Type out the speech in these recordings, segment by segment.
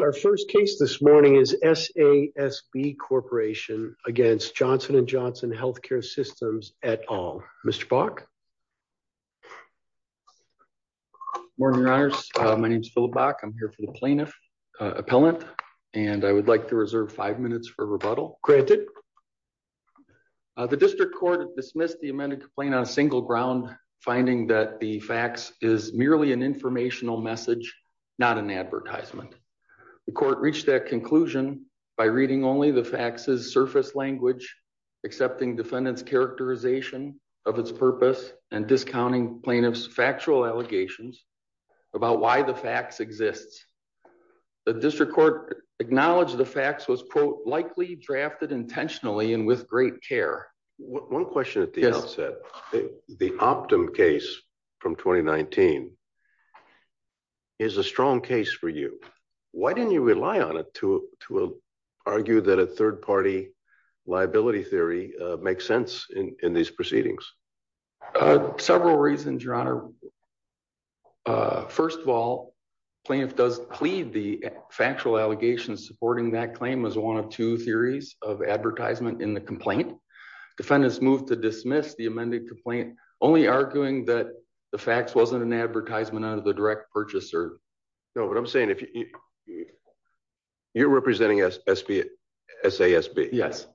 Our first case this morning is SASB Corporation against Johnson&Johnson Healthcare Systems et al. Mr. Bach. Morning, your honors. My name is Philip Bach. I'm here for the plaintiff appellant, and I would like to reserve five minutes for rebuttal. The district court has dismissed the amended complaint on a single ground, finding that the facts is merely an informational message, not an advertisement. The court reached that conclusion by reading only the facts' surface language, accepting defendant's characterization of its purpose, and discounting plaintiff's factual allegations about why the facts exists. The district court acknowledged the facts was, likely drafted intentionally and with great care. One question at the outset. The Optum case from 2019, is a strong case for you. Why didn't you rely on it to argue that a third party liability theory makes sense in these proceedings? Several reasons, your honor. First of all, plaintiff does plead the factual allegations supporting that claim as one of two theories of advertisement in the complaint. Defendants moved to dismiss the amended complaint, only arguing that the facts wasn't an advertisement out of the direct purchaser. No, what I'm saying, you're representing SASB. Yes.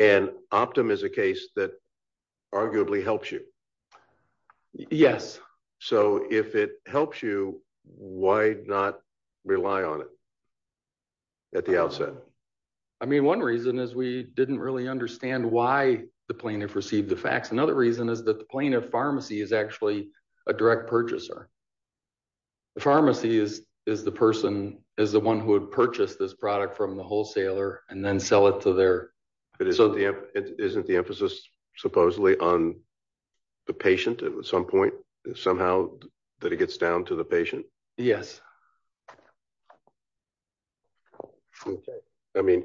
And Optum is a case that arguably helps you. Yes. So if it helps you, why not rely on it at the outset? I mean, one reason is we didn't really understand why the plaintiff received the facts. Another reason is that the plaintiff pharmacy is actually a direct purchaser. The pharmacy is the person, is the one who had purchased this product from the wholesaler and then sell it to their. But isn't the emphasis supposedly on the patient at some point, somehow that it gets down to the patient? Yes. I mean,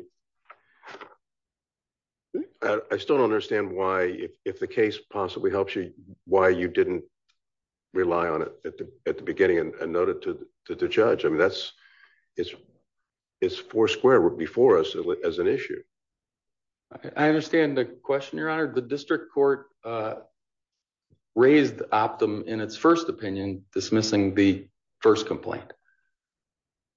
I still don't understand why, if the case possibly helps you, why you didn't rely on it at the beginning and note it to the judge. I mean, it's four square before us as an issue. I understand the question, Your Honor. The district court raised Optum in its first opinion, dismissing the first complaint.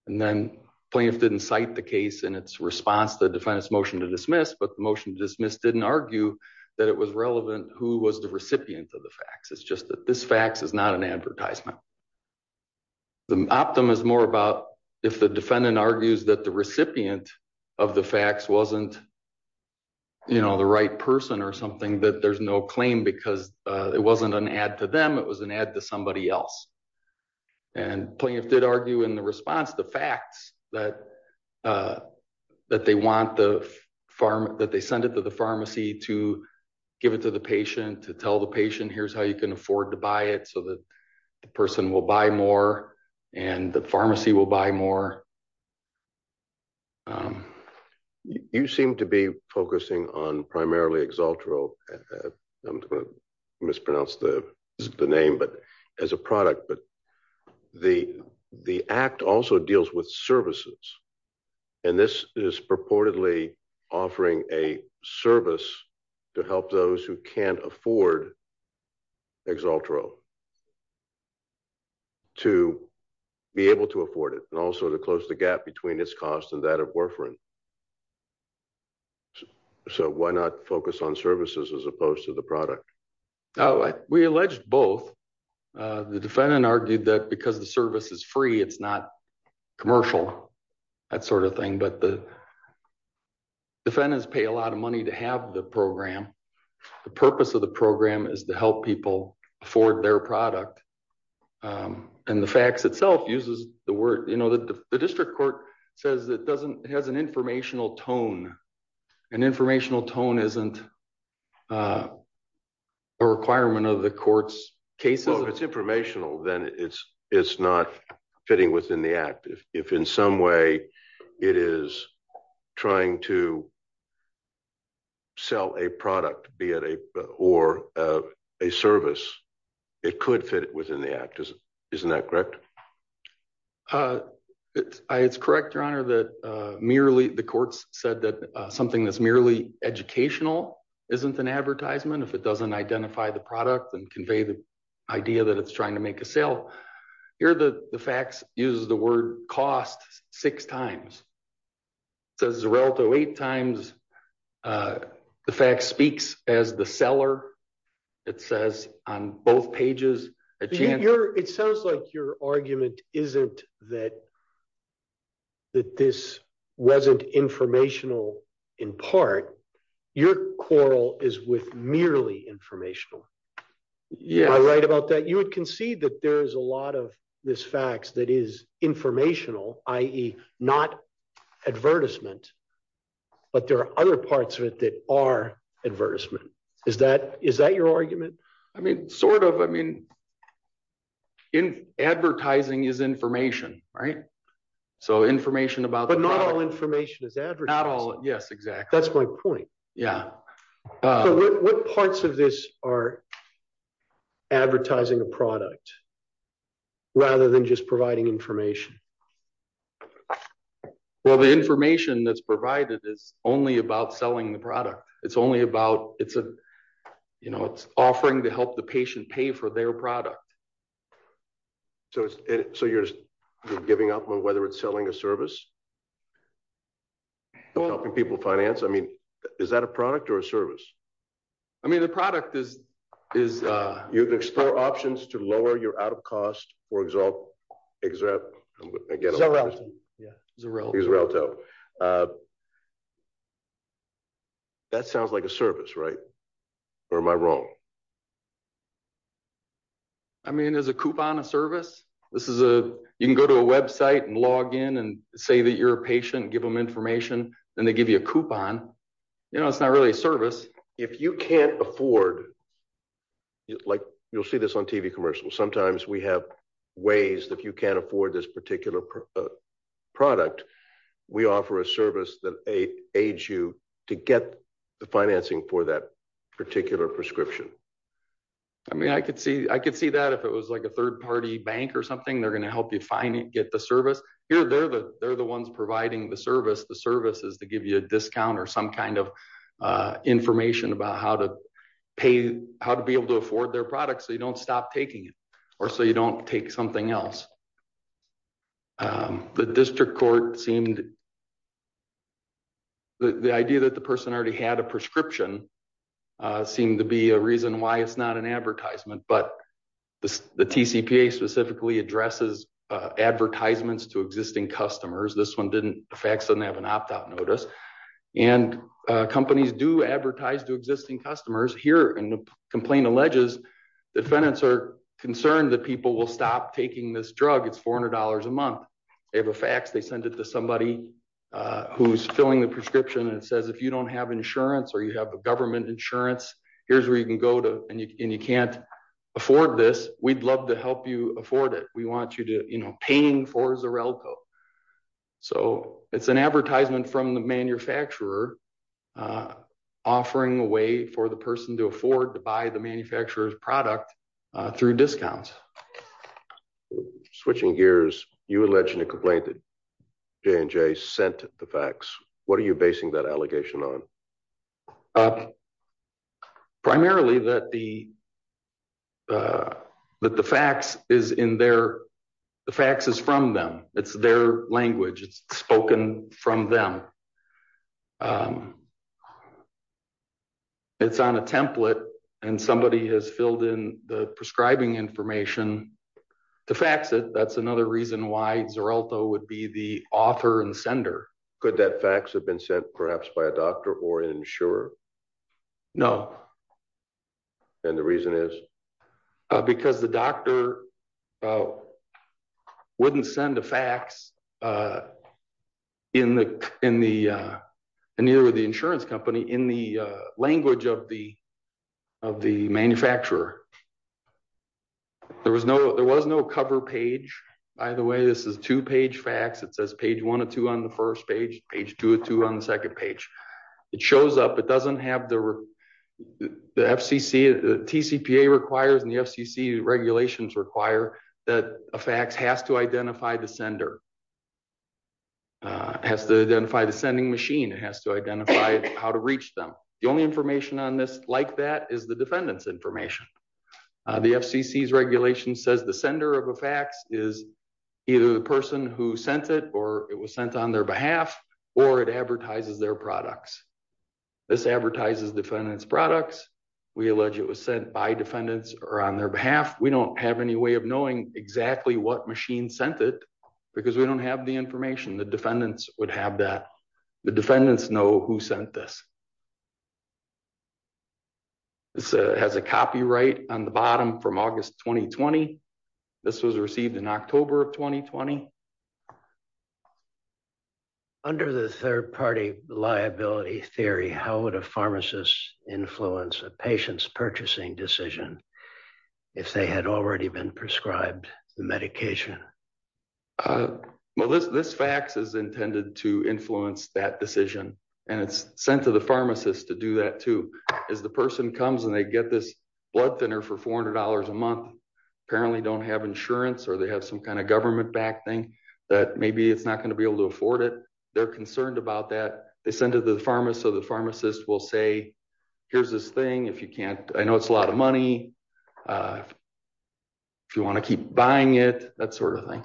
And then plaintiff didn't cite the case in its response to defendants motion to dismiss, but the motion to dismiss didn't argue that it was relevant who was the recipient of the facts. It's just that this fax is not an advertisement. The Optum is more about if the defendant argues that the recipient of the fax wasn't the right person or something that there's no claim because it wasn't an ad to them, it was an ad to somebody else. And plaintiff did argue in the response, the facts that they sent it to the pharmacy to give it to the patient, to tell the patient, here's how you can afford to buy it so that the person will buy more and the pharmacy will buy more. You seem to be focusing on primarily Exaltro, I'm gonna mispronounce the name, but as a product, but the act also deals with services. And this is purportedly offering a service to help those who can't afford Exaltro to be able to afford it and also to close the gap between its cost and that of Warfarin. So why not focus on services as opposed to the product? We alleged both. The defendant argued that because the service is free, it's not commercial, that sort of thing, but the defendants pay a lot of money to have the program. The purpose of the program is to help people afford their product. And the facts itself uses the word. The district court says it has an informational tone. An informational tone isn't a requirement of the court's cases. So if it's informational, then it's not fitting within the act. If in some way it is trying to sell a product, be it a, or a service, it could fit within the act. Isn't that correct? It's correct, Your Honor, that merely the courts said that something that's merely educational isn't an advertisement. If it doesn't identify the product and convey the idea that it's trying to make a sale, here the facts uses the word cost six times. It says the relative eight times. The fact speaks as the seller. It says on both pages, a chance. It sounds like your argument isn't that, that this wasn't informational in part. Your quarrel is with merely informational. Am I right about that? You would concede that there is a lot of this facts that is informational, i.e. not advertisement, but there are other parts of it that are advertisement. Is that your argument? I mean, sort of. I mean, advertising is information, right? So information about the product. But not all information is advertising. Not all, yes, exactly. That's my point. Yeah. So what parts of this are advertising a product rather than just providing information? Well, the information that's provided is only about selling the product. It's only about, it's offering to help the patient pay for their product. So you're just giving up on whether it's selling a service? Or helping people finance? I mean, is that a product or a service? I mean, the product is- You can explore options to lower your out-of-cost or exalt, again- Xarelto. Yeah, Xarelto. Xarelto. That sounds like a service, right? Or am I wrong? I mean, is a coupon a service? This is a, you can go to a website and log in and say that you're a patient, give them information, then they give you a coupon. You know, it's not really a service. If you can't afford, like, you'll see this on TV commercials. Sometimes we have ways that you can't afford this particular product. We offer a service that aids you to get the financing for that particular prescription. I mean, I could see that if it was like a third-party bank or something, they're gonna help you get the service. Here, they're the ones providing the service, the service is to give you a discount or some kind of information about how to pay, how to be able to afford their product so you don't stop taking it or so you don't take something else. The district court seemed, the idea that the person already had a prescription seemed to be a reason why it's not an advertisement, but the TCPA specifically addresses advertisements to existing customers. This one didn't, FACS didn't have an opt-out notice. And companies do advertise to existing customers. Here, and the complaint alleges the defendants are concerned that people will stop taking this drug. It's $400 a month. They have a FACS, they send it to somebody who's filling the prescription and it says, if you don't have insurance or you have a government insurance, here's where you can go to, and you can't afford this, we'd love to help you afford it. We want you to, you know, paying for Xarelco. So it's an advertisement from the manufacturer offering a way for the person to afford to buy the manufacturer's product through discounts. Switching gears, you alleged in a complaint that J&J sent the FACS. What are you basing that allegation on? Primarily that the FACS is in their, the FACS is from them. It's their language. It's spoken from them. It's on a template and somebody has filled in the prescribing information to FACS it. That's another reason why Xarelco would be the author and sender. Could that FACS have been sent perhaps by a doctor or an insurer? No. And the reason is? Because the doctor wouldn't send a FACS in the, near the insurance company in the language of the manufacturer. There was no cover page. By the way, this is two page FACS. It says page one or two on the first page, page two or two on the second page. It shows up. It doesn't have the FCC, the TCPA requires and the FCC regulations require that a FACS has to identify the sender, has to identify the sending machine. It has to identify how to reach them. The only information on this like that is the defendant's information. The FCC's regulation says the sender of a FACS is either the person who sent it or it was sent on their behalf or it advertises their products. This advertises defendant's products. We allege it was sent by defendants or on their behalf. We don't have any way of knowing exactly what machine sent it because we don't have the information. The defendants would have that. The defendants know who sent this. This has a copyright on the bottom from August, 2020. This was received in October of 2020. Under the third party liability theory, how would a pharmacist influence a patient's purchasing decision if they had already been prescribed the medication? Well, this FACS is intended to influence that decision and it's sent to the pharmacist to do that too. As the person comes and they get this blood thinner for $400 a month, apparently don't have insurance or they have some kind of government backed thing that maybe it's not gonna be able to afford it. They're concerned about that. They send it to the pharmacist so the pharmacist will say, here's this thing, if you can't, I know it's a lot of money. If you wanna keep buying it, that sort of thing.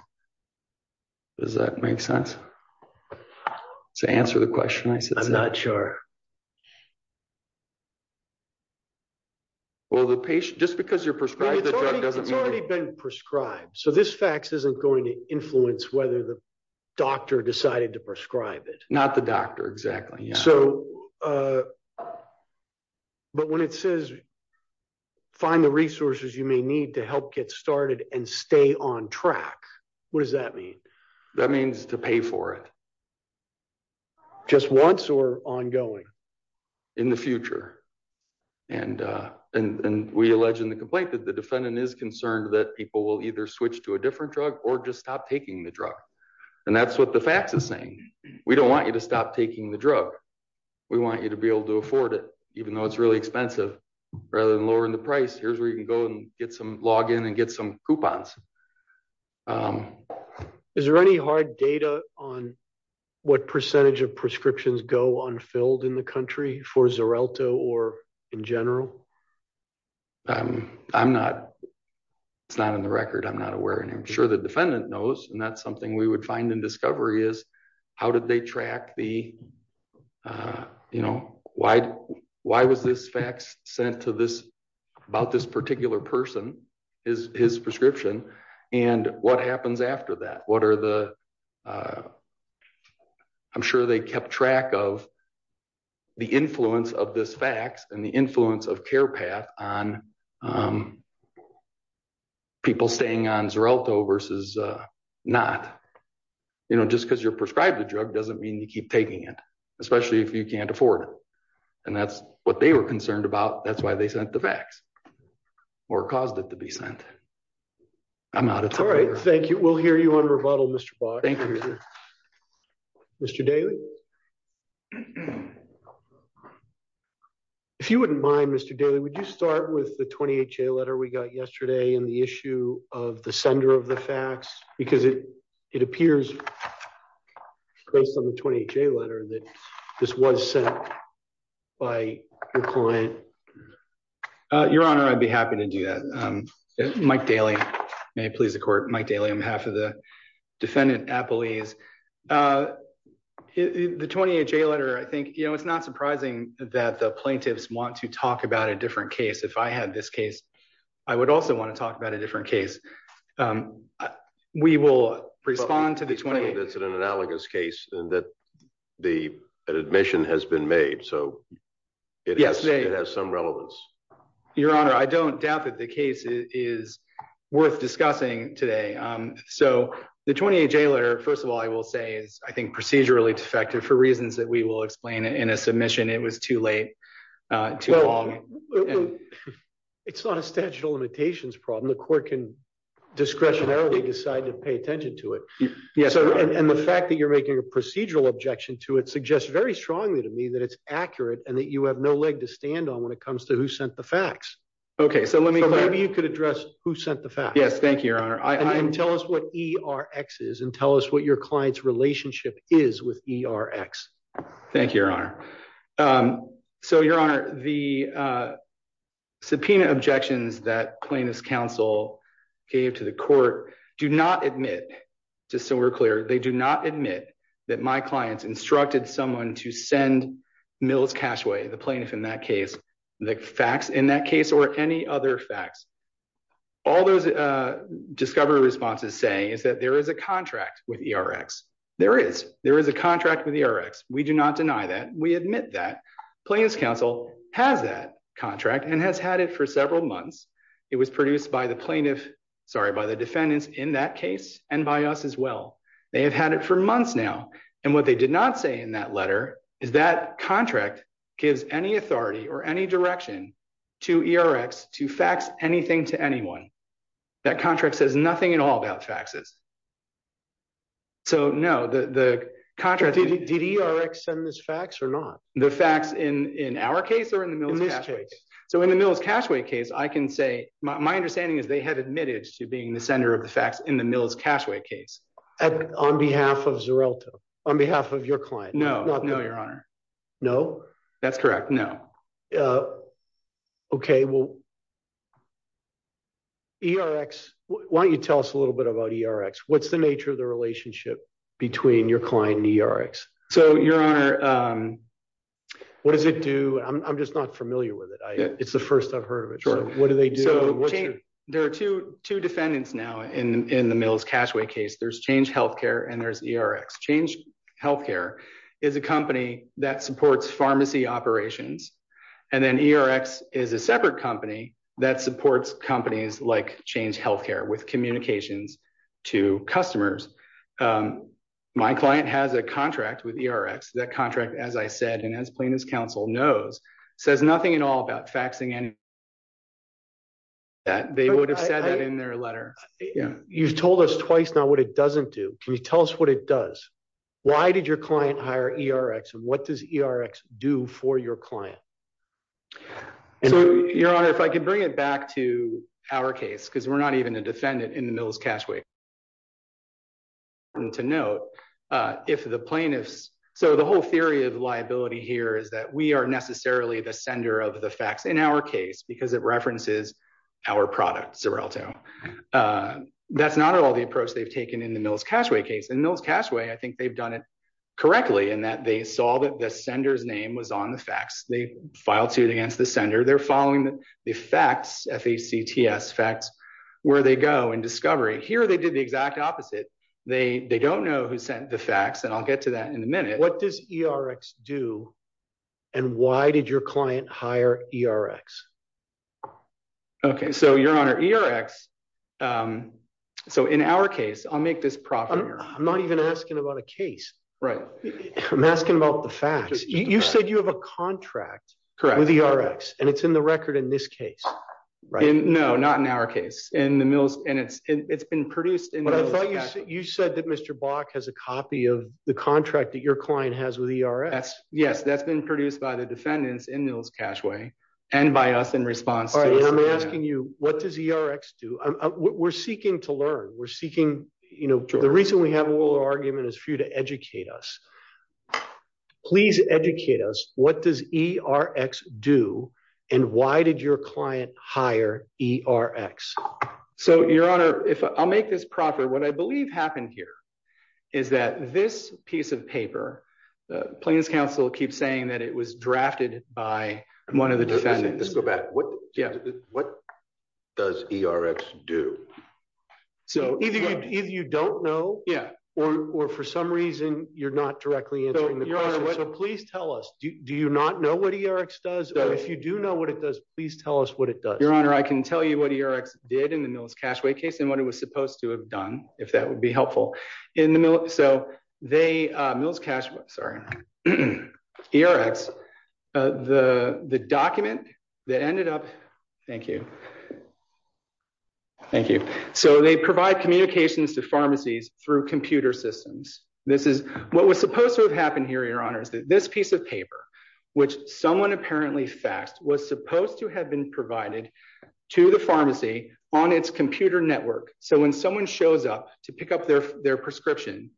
Does that make sense? To answer the question I said. I'm not sure. Well, the patient, just because you're prescribed the drug doesn't mean- It's already been prescribed. So this FACS isn't going to influence whether the doctor decided to prescribe it. Not the doctor, exactly, yeah. But when it says, find the resources you may need to help get started and stay on track, what does that mean? That means to pay for it. Just once or ongoing? In the future. And we allege in the complaint that the defendant is concerned that people will either switch to a different drug or just stop taking the drug. And that's what the FACS is saying. We don't want you to stop taking the drug. We want you to be able to afford it, even though it's really expensive. Rather than lowering the price, here's where you can go and get some, log in and get some coupons. Is there any hard data on what percentage of prescriptions go unfilled in the country for Xarelto or in general? I'm not, it's not in the record. I'm not aware of it. I'm sure the defendant knows. And that's something we would find in discovery is how did they track the, why was this FACS sent to this, about this particular person, his prescription? And what happens after that? What are the, I'm sure they kept track of the influence of this FACS and the influence of CarePath on people staying on Xarelto versus not. You know, just because you're prescribed the drug doesn't mean you keep taking it, especially if you can't afford it. And that's what they were concerned about. That's why they sent the FACS, or caused it to be sent. I'm not a. All right, thank you. We'll hear you on rebuttal, Mr. Box. Thank you. Mr. Daly. If you wouldn't mind, Mr. Daly, would you start with the 20HA letter we got yesterday and the issue of the sender of the FACS? Because it appears based on the 20HA letter that this was sent by your client. Your Honor, I'd be happy to do that. Mike Daly, may it please the court. Mike Daly, I'm half of the defendant appellees. The 20HA letter, I think, you know, it's not surprising that the plaintiffs want to talk about a different case. If I had this case, I would also want to talk about a different case. We will respond to the 20. That's an analogous case and that the admission has been made. So it has some relevance. Your Honor, I don't doubt that the case is worth discussing today. So the 20HA letter, first of all, I will say is, I think, procedurally defective for reasons that we will explain in a submission. It was too late, too long. It's not a statute of limitations problem. The court can discretionarily decide to pay attention to it. Yes, Your Honor. And the fact that you're making a procedural objection to it suggests very strongly to me that it's accurate and that you have no leg to stand on when it comes to who sent the fax. Okay, so let me- So maybe you could address who sent the fax. Yes, thank you, Your Honor. And then tell us what ERX is and tell us what your client's relationship is with ERX. Thank you, Your Honor. So, Your Honor, the subpoena objections that plaintiff's counsel gave to the court do not admit, just so we're clear, they do not admit that my clients instructed someone to send Mills Cashway, the plaintiff in that case, the fax in that case or any other fax. All those discovery responses say is that there is a contract with ERX. There is, there is a contract with ERX. We do not deny that. We admit that. Plaintiff's counsel has that contract and has had it for several months. It was produced by the plaintiff, sorry, by the defendants in that case and by us as well. They have had it for months now. And what they did not say in that letter is that contract gives any authority or any direction to ERX to fax anything to anyone. That contract says nothing at all about faxes. So, no, the contract- Did ERX send this fax or not? The fax in our case or in the Mills Cashway? In this case. So in the Mills Cashway case, I can say, my understanding is they had admitted to being the sender of the fax in the Mills Cashway case. On behalf of Zeralta, on behalf of your client? No, no, your honor. No? That's correct, no. Okay, well, ERX, why don't you tell us a little bit about ERX? What's the nature of the relationship between your client and ERX? So, your honor, what does it do? I'm just not familiar with it. It's the first I've heard of it. So what do they do? There are two defendants now in the Mills Cashway case. There's Change Healthcare and there's ERX. Change Healthcare is a company that supports pharmacy operations. And then ERX is a separate company that supports companies like Change Healthcare with communications to customers. My client has a contract with ERX. That contract, as I said, and as Plaintiff's Counsel knows, says nothing at all about faxing anything. That they would have said that in their letter. You've told us twice now what it doesn't do. Can you tell us what it does? Why did your client hire ERX and what does ERX do for your client? So, your honor, if I could bring it back to our case, because we're not even a defendant in the Mills Cashway. And to note, if the plaintiffs, so the whole theory of liability here is that we are necessarily the sender of the fax in our case because it references our product, Xarelto. That's not at all the approach they've taken in the Mills Cashway case. In Mills Cashway, I think they've done it correctly in that they saw that the sender's name was on the fax. They filed suit against the sender. They're following the fax, F-A-C-T-S, fax, where they go in discovery. Here, they did the exact opposite. They don't know who sent the fax and I'll get to that in a minute. What does ERX do and why did your client hire ERX? Okay, so your honor, ERX, so in our case, I'll make this proper here. I'm not even asking about a case. Right. I'm asking about the fax. You said you have a contract with ERX and it's in the record in this case, right? No, not in our case, in the Mills, and it's been produced in the Mills Cashway. You said that Mr. Bach has a copy of the contract that your client has with ERX. Yes, that's been produced by the defendants in Mills Cashway and by us in response to- All right, I'm asking you, what does ERX do? We're seeking to learn. We're seeking, the reason we have a little argument is for you to educate us. Please educate us. What does ERX do and why did your client hire ERX? So your honor, I'll make this proper. What I believe happened here is that this piece of paper, plaintiff's counsel keeps saying that it was drafted by one of the defendants. Let's go back. What does ERX do? So- Either you don't know or for some reason, you're not directly answering the question. So please tell us, do you not know what ERX does? Or if you do know what it does, please tell us what it does. Your honor, I can tell you what ERX did in the Mills Cashway case and what it was supposed to have done, if that would be helpful. In the Mills, so Mills Cashway, sorry. ERX, the document that ended up, thank you. Thank you. So they provide communications to pharmacies through computer systems. This is, what was supposed to have happened here, your honor, is that this piece of paper, which someone apparently faxed, was supposed to have been provided to the pharmacy on its computer network. So when someone shows up to pick up their prescription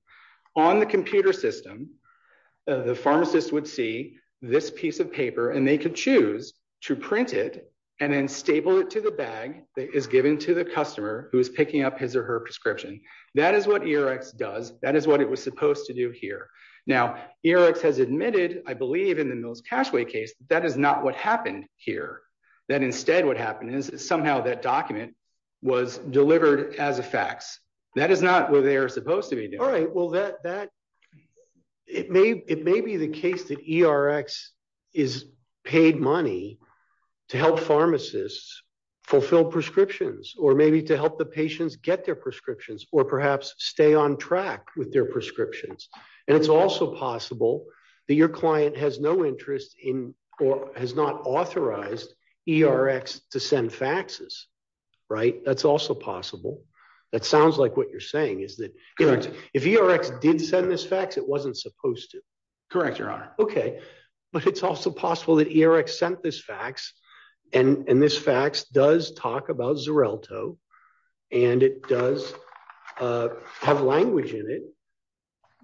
on the computer system, the pharmacist would see this piece of paper and they could choose to print it and then staple it to the bag that is given to the customer who is picking up his or her prescription. That is what ERX does. That is what it was supposed to do here. Now, ERX has admitted, I believe in the Mills Cashway case, that is not what happened here. That instead what happened is somehow that document was delivered as a fax. That is not what they are supposed to be doing. All right, well, it may be the case that ERX is paid money to help pharmacists fulfill prescriptions or maybe to help the patients get their prescriptions or perhaps stay on track with their prescriptions. And it's also possible that your client has no interest in or has not authorized ERX to send faxes, right? That's also possible. That sounds like what you're saying is that if ERX did send this fax, it wasn't supposed to. Correct, Your Honor. Okay, but it's also possible that ERX sent this fax and this fax does talk about Xarelto and it does have language in it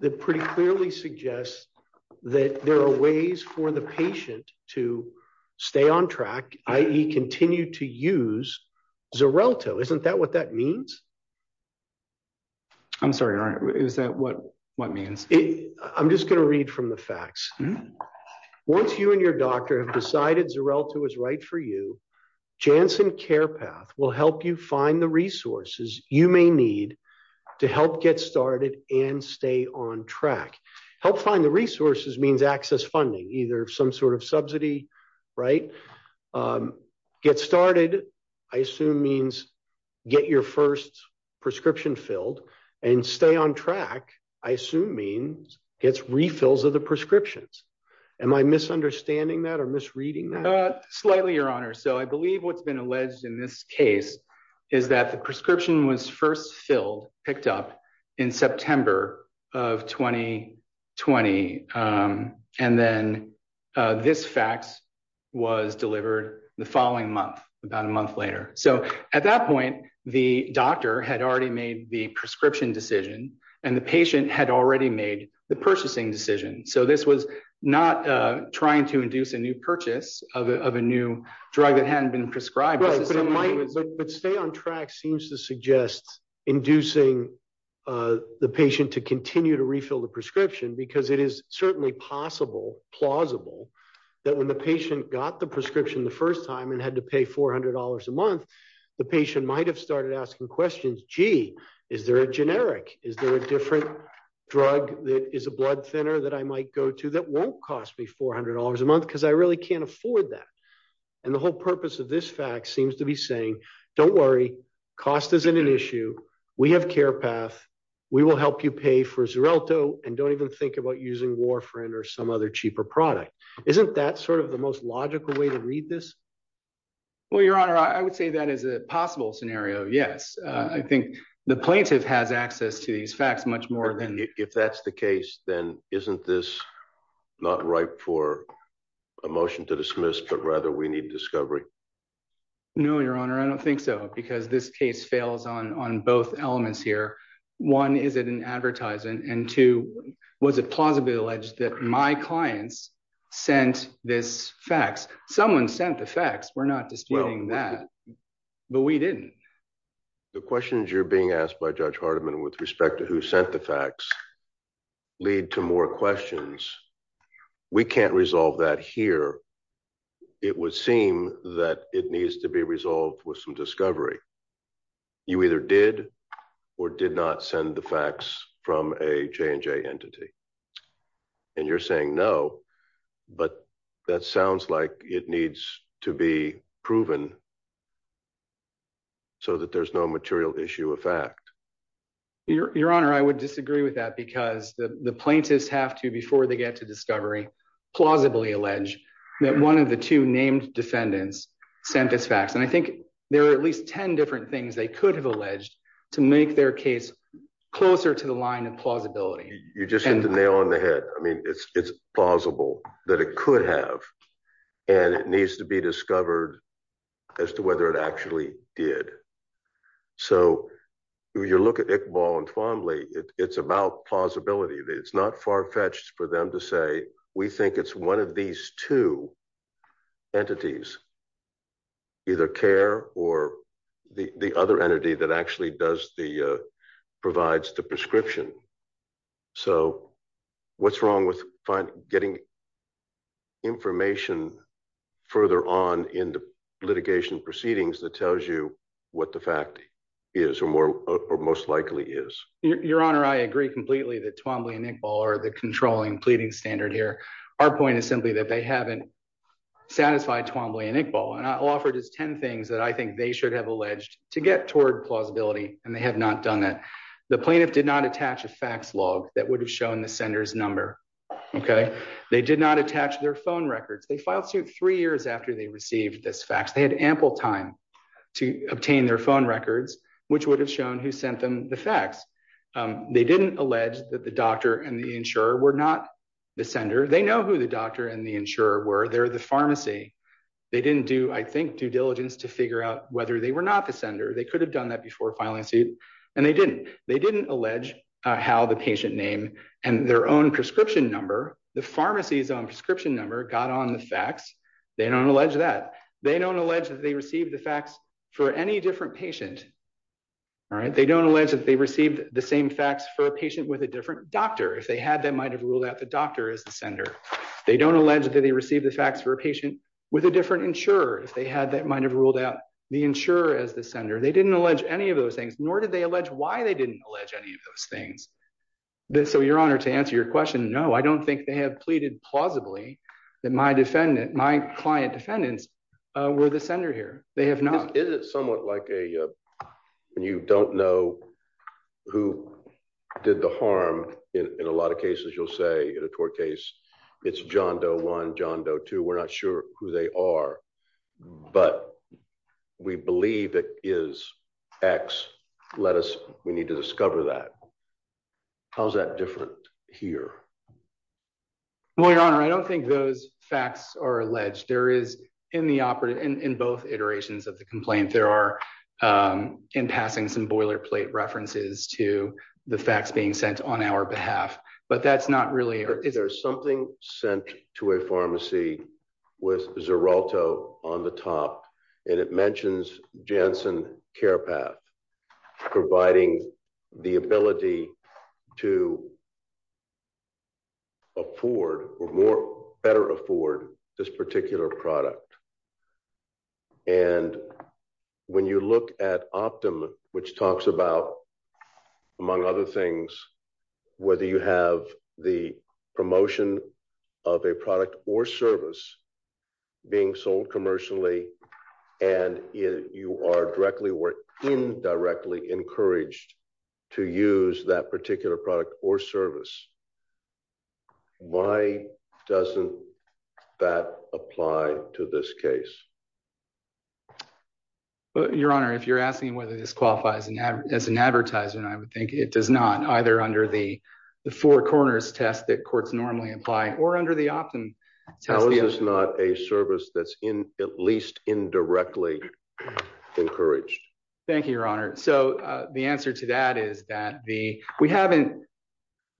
that pretty clearly suggests that there are ways for the patient to stay on track, i.e. continue to use Xarelto. Isn't that what that means? I'm sorry, Your Honor, is that what means? I'm just gonna read from the fax. Once you and your doctor have decided Xarelto is right for you, Janssen Care Path will help you find the resources you may need to help get started and stay on track. Help find the resources means access funding, either some sort of subsidy, right? Get started, I assume means get your first prescription filled and stay on track, I assume means gets refills of the prescriptions. Am I misunderstanding that or misreading that? Slightly, Your Honor. So I believe what's been alleged in this case is that the prescription was first filled, picked up in September of 2020. And then this fax was delivered the following month, about a month later. So at that point, the doctor had already made the prescription decision and the patient had already made the purchasing decision. So this was not trying to induce a new purchase of a new drug that hadn't been prescribed. Right, but stay on track seems to suggest inducing the patient to continue to refill the prescription because it is certainly possible, plausible that when the patient got the prescription the first time and had to pay $400 a month, the patient might've started asking questions. Gee, is there a generic? Is there a different drug that is a blood thinner that I might go to that won't cost me $400 a month because I really can't afford that. And the whole purpose of this fax seems to be saying, don't worry, cost isn't an issue. We have Care Path. We will help you pay for Xarelto and don't even think about using Warfarin or some other cheaper product. Isn't that sort of the most logical way to read this? Well, your honor, I would say that is a possible scenario. Yes, I think the plaintiff has access to these facts much more than- If that's the case, then isn't this not ripe for a motion to dismiss, but rather we need discovery. No, your honor, I don't think so because this case fails on both elements here. One, is it an advertisement? And two, was it plausibly alleged that my clients sent this fax? Someone sent the fax. We're not disputing that, but we didn't. The questions you're being asked by Judge Hardiman with respect to who sent the fax lead to more questions. We can't resolve that here. It would seem that it needs to be resolved with some discovery. You either did or did not send the fax from a J&J entity. And you're saying no, but that sounds like it needs to be proven so that there's no material issue of fact. Your honor, I would disagree with that because the plaintiffs have to, before they get to discovery, plausibly allege that one of the two named defendants sent this fax. And I think there are at least 10 different things they could have alleged to make their case closer to the line of plausibility. You just hit the nail on the head. I mean, it's plausible that it could have, and it needs to be discovered as to whether it actually did. So when you look at Iqbal and Twombly, it's about plausibility. It's not far-fetched for them to say, we think it's one of these two entities, either CARE or the other entity that actually provides the prescription. So what's wrong with getting information further on in the litigation proceedings that tells you what the fact is or most likely is? Your honor, I agree completely that Twombly and Iqbal are the controlling pleading standard here. Our point is simply that they haven't satisfied Twombly and Iqbal. And I'll offer just 10 things that I think they should have alleged to get toward plausibility, and they have not done that. The plaintiff did not attach a fax log that would have shown the sender's number, okay? They did not attach their phone records. They filed suit three years after they received this fax. They had ample time to obtain their phone records, which would have shown who sent them the fax. They didn't allege that the doctor and the insurer were not the sender. They know who the doctor and the insurer were. They're the pharmacy. They didn't do, I think, due diligence to figure out whether they were not the sender. They could have done that before filing a suit, and they didn't. They didn't allege how the patient name and their own prescription number, the pharmacy's own prescription number got on the fax. They don't allege that. They don't allege that they received the fax for any different patient, all right? They don't allege that they received the same fax for a patient with a different doctor. If they had, they might've ruled out the doctor as the sender. They don't allege that they received the fax for a patient with a different insurer. If they had, they might've ruled out the insurer as the sender. They didn't allege any of those things, nor did they allege why they didn't allege any of those things. So your honor, to answer your question, no, I don't think they have pleaded plausibly that my client defendants were the sender here. They have not. Is it somewhat like a, when you don't know who did the harm, in a lot of cases, you'll say in a tort case, it's John Doe one, John Doe two, we're not sure who they are, but we believe it is X. Let us, we need to discover that. How's that different here? Well, your honor, I don't think those facts are alleged. There is in the operative, in both iterations of the complaint, there are, in passing some boilerplate references to the facts being sent on our behalf, but that's not really. There's something sent to a pharmacy with Xeralto on the top, and it mentions Janssen Care Path, providing the ability to afford, or better afford, this particular product. And when you look at Optum, which talks about, among other things, whether you have the promotion of a product or service being sold commercially, and you are directly or indirectly encouraged to use that particular product or service, why doesn't that apply to this case? Your honor, if you're asking whether this qualifies as an advertisement, I would think it does not, either under the Four Corners test that courts normally apply, or under the Optum test. How is this not a service that's in, at least indirectly encouraged? Thank you, your honor. So the answer to that is that the, we haven't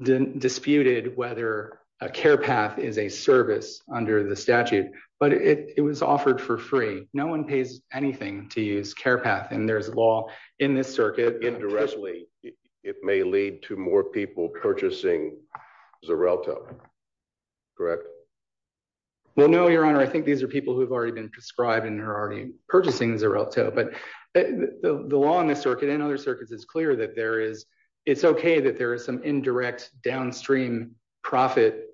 disputed whether a Care Path is a service under the statute, but it was offered for free. No one pays anything to use Care Path, and there's law in this circuit. Indirectly, it may lead to more people purchasing Xeralto. Correct? Well, no, your honor. I think these are people who've already been prescribed and are already purchasing Xeralto, but the law in this circuit and other circuits is clear that there is, it's okay that there is some indirect downstream profit.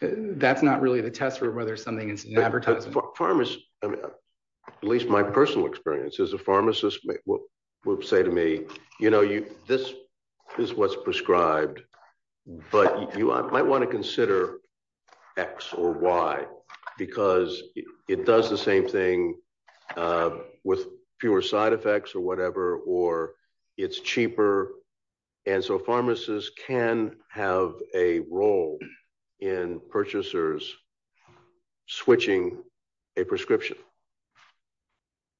That's not really the test for whether something is an advertisement. Pharmacists, at least my personal experience is a pharmacist will say to me, you know, this is what's prescribed, but you might want to consider X or Y, because it does the same thing with fewer side effects or whatever, or it's cheaper. And so pharmacists can have a role in purchasers switching a prescription.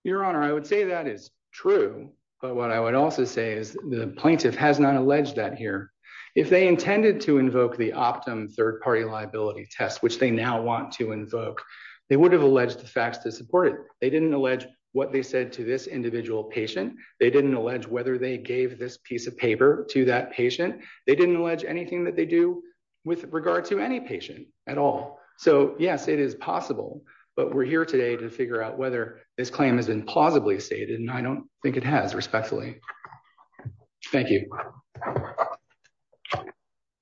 Your honor, I would say that is true, but what I would also say is the plaintiff has not alleged that here. If they intended to invoke the Optum third-party liability test, which they now want to invoke, they would have alleged the facts to support it. They didn't allege what they said to this individual patient. They didn't allege whether they gave this piece of paper to that patient. They didn't allege anything that they do with regard to any patient at all. So yes, it is possible, but we're here today to figure out whether this claim has been plausibly stated, and I don't think it has respectfully. Thank you.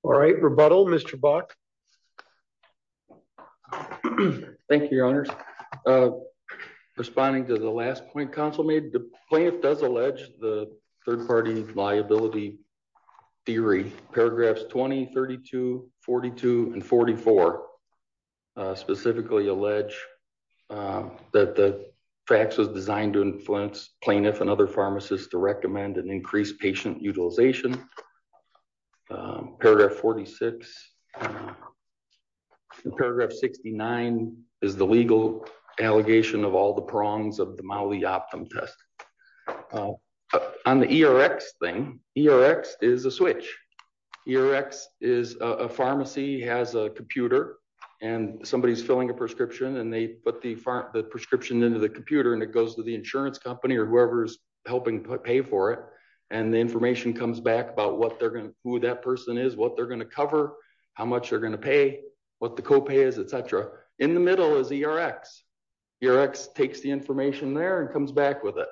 All right, rebuttal, Mr. Buck. Thank you, your honors. Responding to the last point council made, the plaintiff does allege the third-party liability theory. Paragraphs 20, 32, 42, and 44 specifically allege that the facts was designed to influence plaintiff and other pharmacists to recommend an increased patient utilization. Paragraph 46, and paragraph 69 is the legal allegation of all the prongs of the Maui Optum test. On the ERX thing, ERX is a switch. ERX is a pharmacy has a computer, and somebody is filling a prescription, and they put the prescription into the computer, and it goes to the insurance company or whoever's helping pay for it. And the information comes back about who that person is, what they're gonna cover, how much they're gonna pay, what the copay is, et cetera. In the middle is ERX. ERX takes the information there and comes back with it.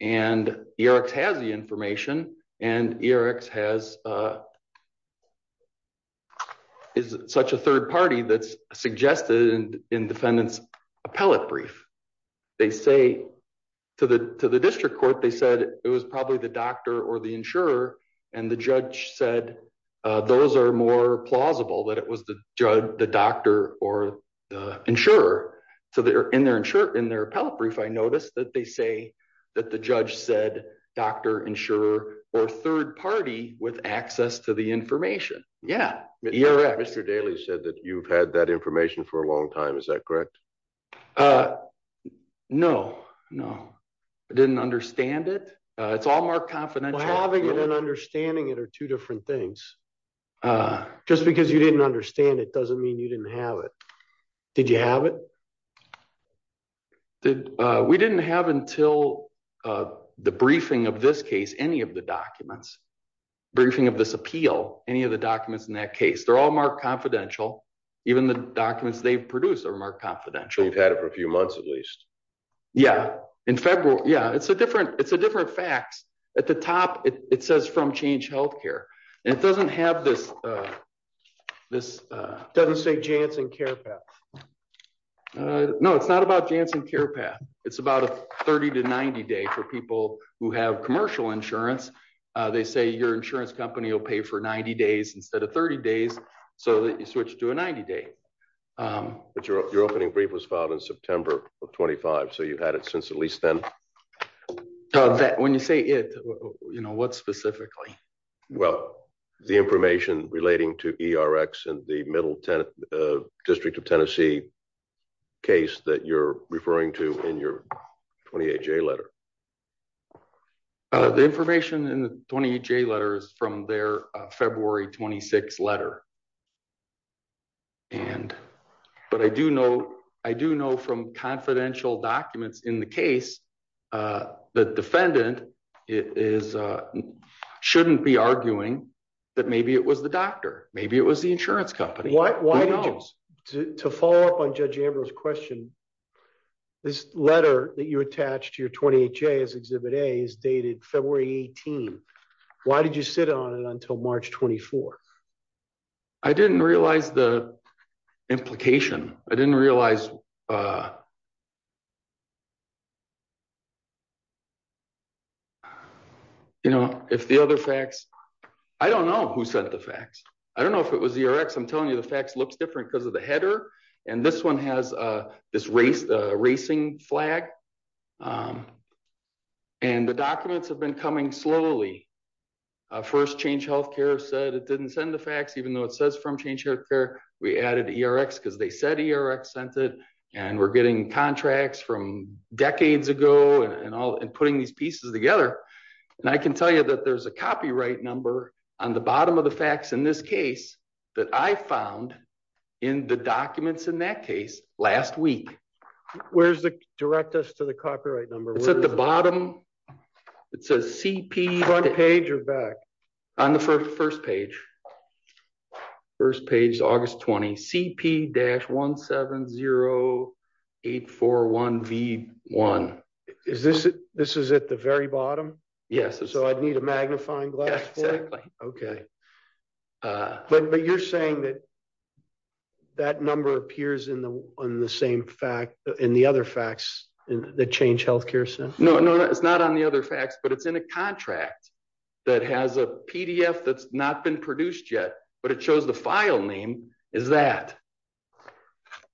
And ERX has the information, and ERX is such a third party that's suggested in defendant's appellate brief. They say to the district court, they said it was probably the doctor or the insurer, and the judge said, those are more plausible that it was the doctor or the insurer. So in their appellate brief, I noticed that they say that the judge said, doctor, insurer, or third party with access to the information. Yeah, ERX. Mr. Daly said that you've had that information for a long time, is that correct? Uh, no, no, I didn't understand it. It's all marked confidential. Having it and understanding it are two different things. Just because you didn't understand it doesn't mean you didn't have it. Did you have it? We didn't have until the briefing of this case, any of the documents, briefing of this appeal, any of the documents in that case, they're all marked confidential. Even the documents they've produced are marked confidential. So you've had it for a few months at least. Yeah, in February, yeah, it's a different facts. At the top, it says from Change Healthcare, and it doesn't have this. Doesn't say Janssen Care Path. No, it's not about Janssen Care Path. It's about a 30 to 90 day for people who have commercial insurance. They say your insurance company will pay for 90 days instead of 30 days. So you switch to a 90 day. But your opening brief was filed in September of 25. So you've had it since at least then? When you say it, what specifically? Well, the information relating to ERX and the Middle District of Tennessee case that you're referring to in your 28J letter. The information in the 28J letters from their February 26 letter. But I do know from confidential documents in the case, the defendant shouldn't be arguing that maybe it was the doctor. Maybe it was the insurance company. Why not? To follow up on Judge Ambrose's question, this letter that you attached to your 28J as Exhibit A is dated February 18. Why did you sit on it until March 24? I didn't realize the implication. I didn't realize... If the other facts... I don't know who sent the facts. I don't know if it was the ERX. I'm telling you the facts looks different because of the header. And this one has this racing flag. And the documents have been coming slowly. First Change Healthcare said it didn't send the facts even though it says from Change Healthcare. We added ERX because they said ERX sent it. And we're getting contracts from decades ago and putting these pieces together. And I can tell you that there's a copyright number on the bottom of the facts in this case that I found in the documents in that case last week. Where's the... Direct us to the copyright number. It's at the bottom. It says CP- Front page or back? On the first page. First page, August 20. CP-170841V1. This is at the very bottom? Yes. So I'd need a magnifying glass for it? But you're saying that that number appears in the other facts that Change Healthcare sent? No, no. It's not on the other facts, but it's in a contract that has a PDF that's not been produced yet, but it shows the file name is that.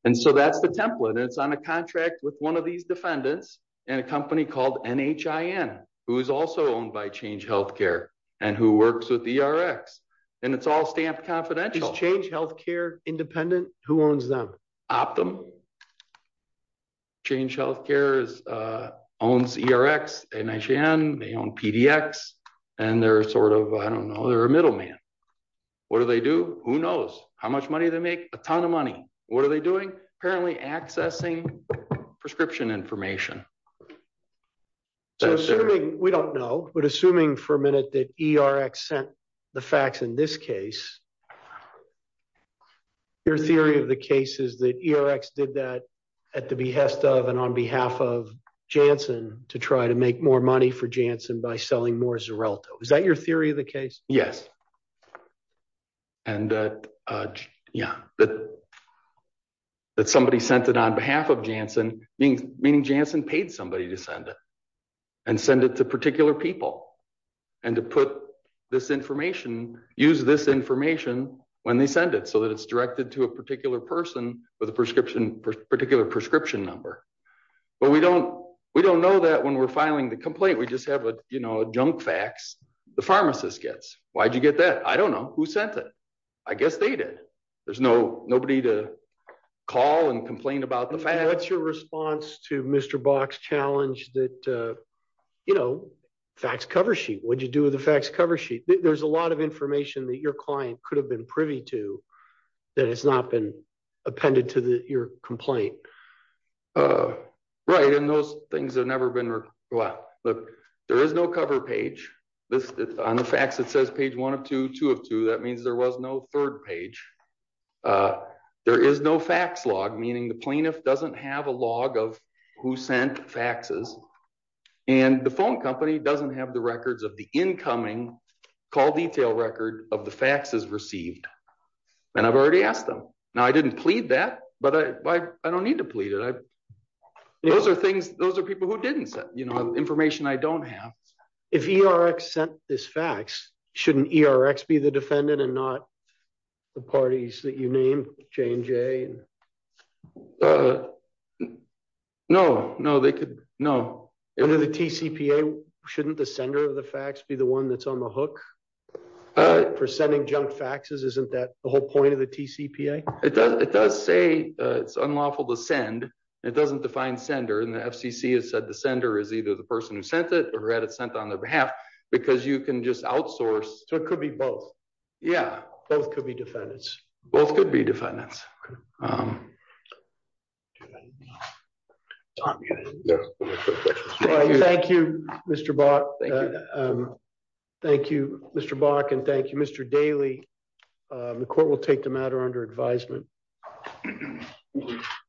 And so that's the template. And it's on a contract with one of these defendants and a company called NHIN, who is also owned by Change Healthcare and who works with ERX. And it's all stamped confidential. Is Change Healthcare independent? Who owns them? Change Healthcare owns ERX, NHIN, they own PDX, and they're sort of, I don't know, they're a middleman. What do they do? Who knows? How much money they make? A ton of money. What are they doing? Apparently accessing prescription information. So assuming, we don't know, but assuming for a minute that ERX sent the facts in this case, your theory of the case is that ERX did that at the behest of and on behalf of Janssen to try to make more money for Janssen by selling more Xarelto. Is that your theory of the case? And yeah, that somebody sent it on behalf of Janssen, meaning Janssen paid somebody to send it and send it to particular people and to put this information, use this information when they send it so that it's directed to a particular person with a particular prescription number. But we don't know that when we're filing the complaint, we just have a junk fax the pharmacist gets. Why'd you get that? I don't know. Who sent it? I guess they did. There's nobody to call and complain about the facts. What's your response to Mr. Bach's challenge that, you know, fax cover sheet, what'd you do with the fax cover sheet? There's a lot of information that your client could have been privy to that has not been appended to your complaint. Right, and those things have never been, well, look, there is no cover page. On the fax, it says page one of two, two of two. That means there was no third page. There is no fax log, meaning the plaintiff doesn't have a log of who sent faxes. And the phone company doesn't have the records of the incoming call detail record of the faxes received. And I've already asked them. Now, I didn't plead that, but I don't need to plead it. Those are things, those are people who didn't send, you know, information I don't have. If ERX sent this fax, shouldn't ERX be the defendant and not the parties that you named, J&J? Uh, no, no, they could, no. Under the TCPA, shouldn't the sender of the fax be the one that's on the hook for sending junk faxes? Isn't that the whole point of the TCPA? It does say it's unlawful to send. It doesn't define sender. And the FCC has said the sender is either the person who sent it or had it sent on their behalf because you can just outsource. So it could be both. Yeah. Both could be defendants. Both could be defendants. Do you have anything to add? No, no questions. Thank you, Mr. Bach. Thank you. Thank you, Mr. Bach. And thank you, Mr. Daley. The court will take the matter under advisement.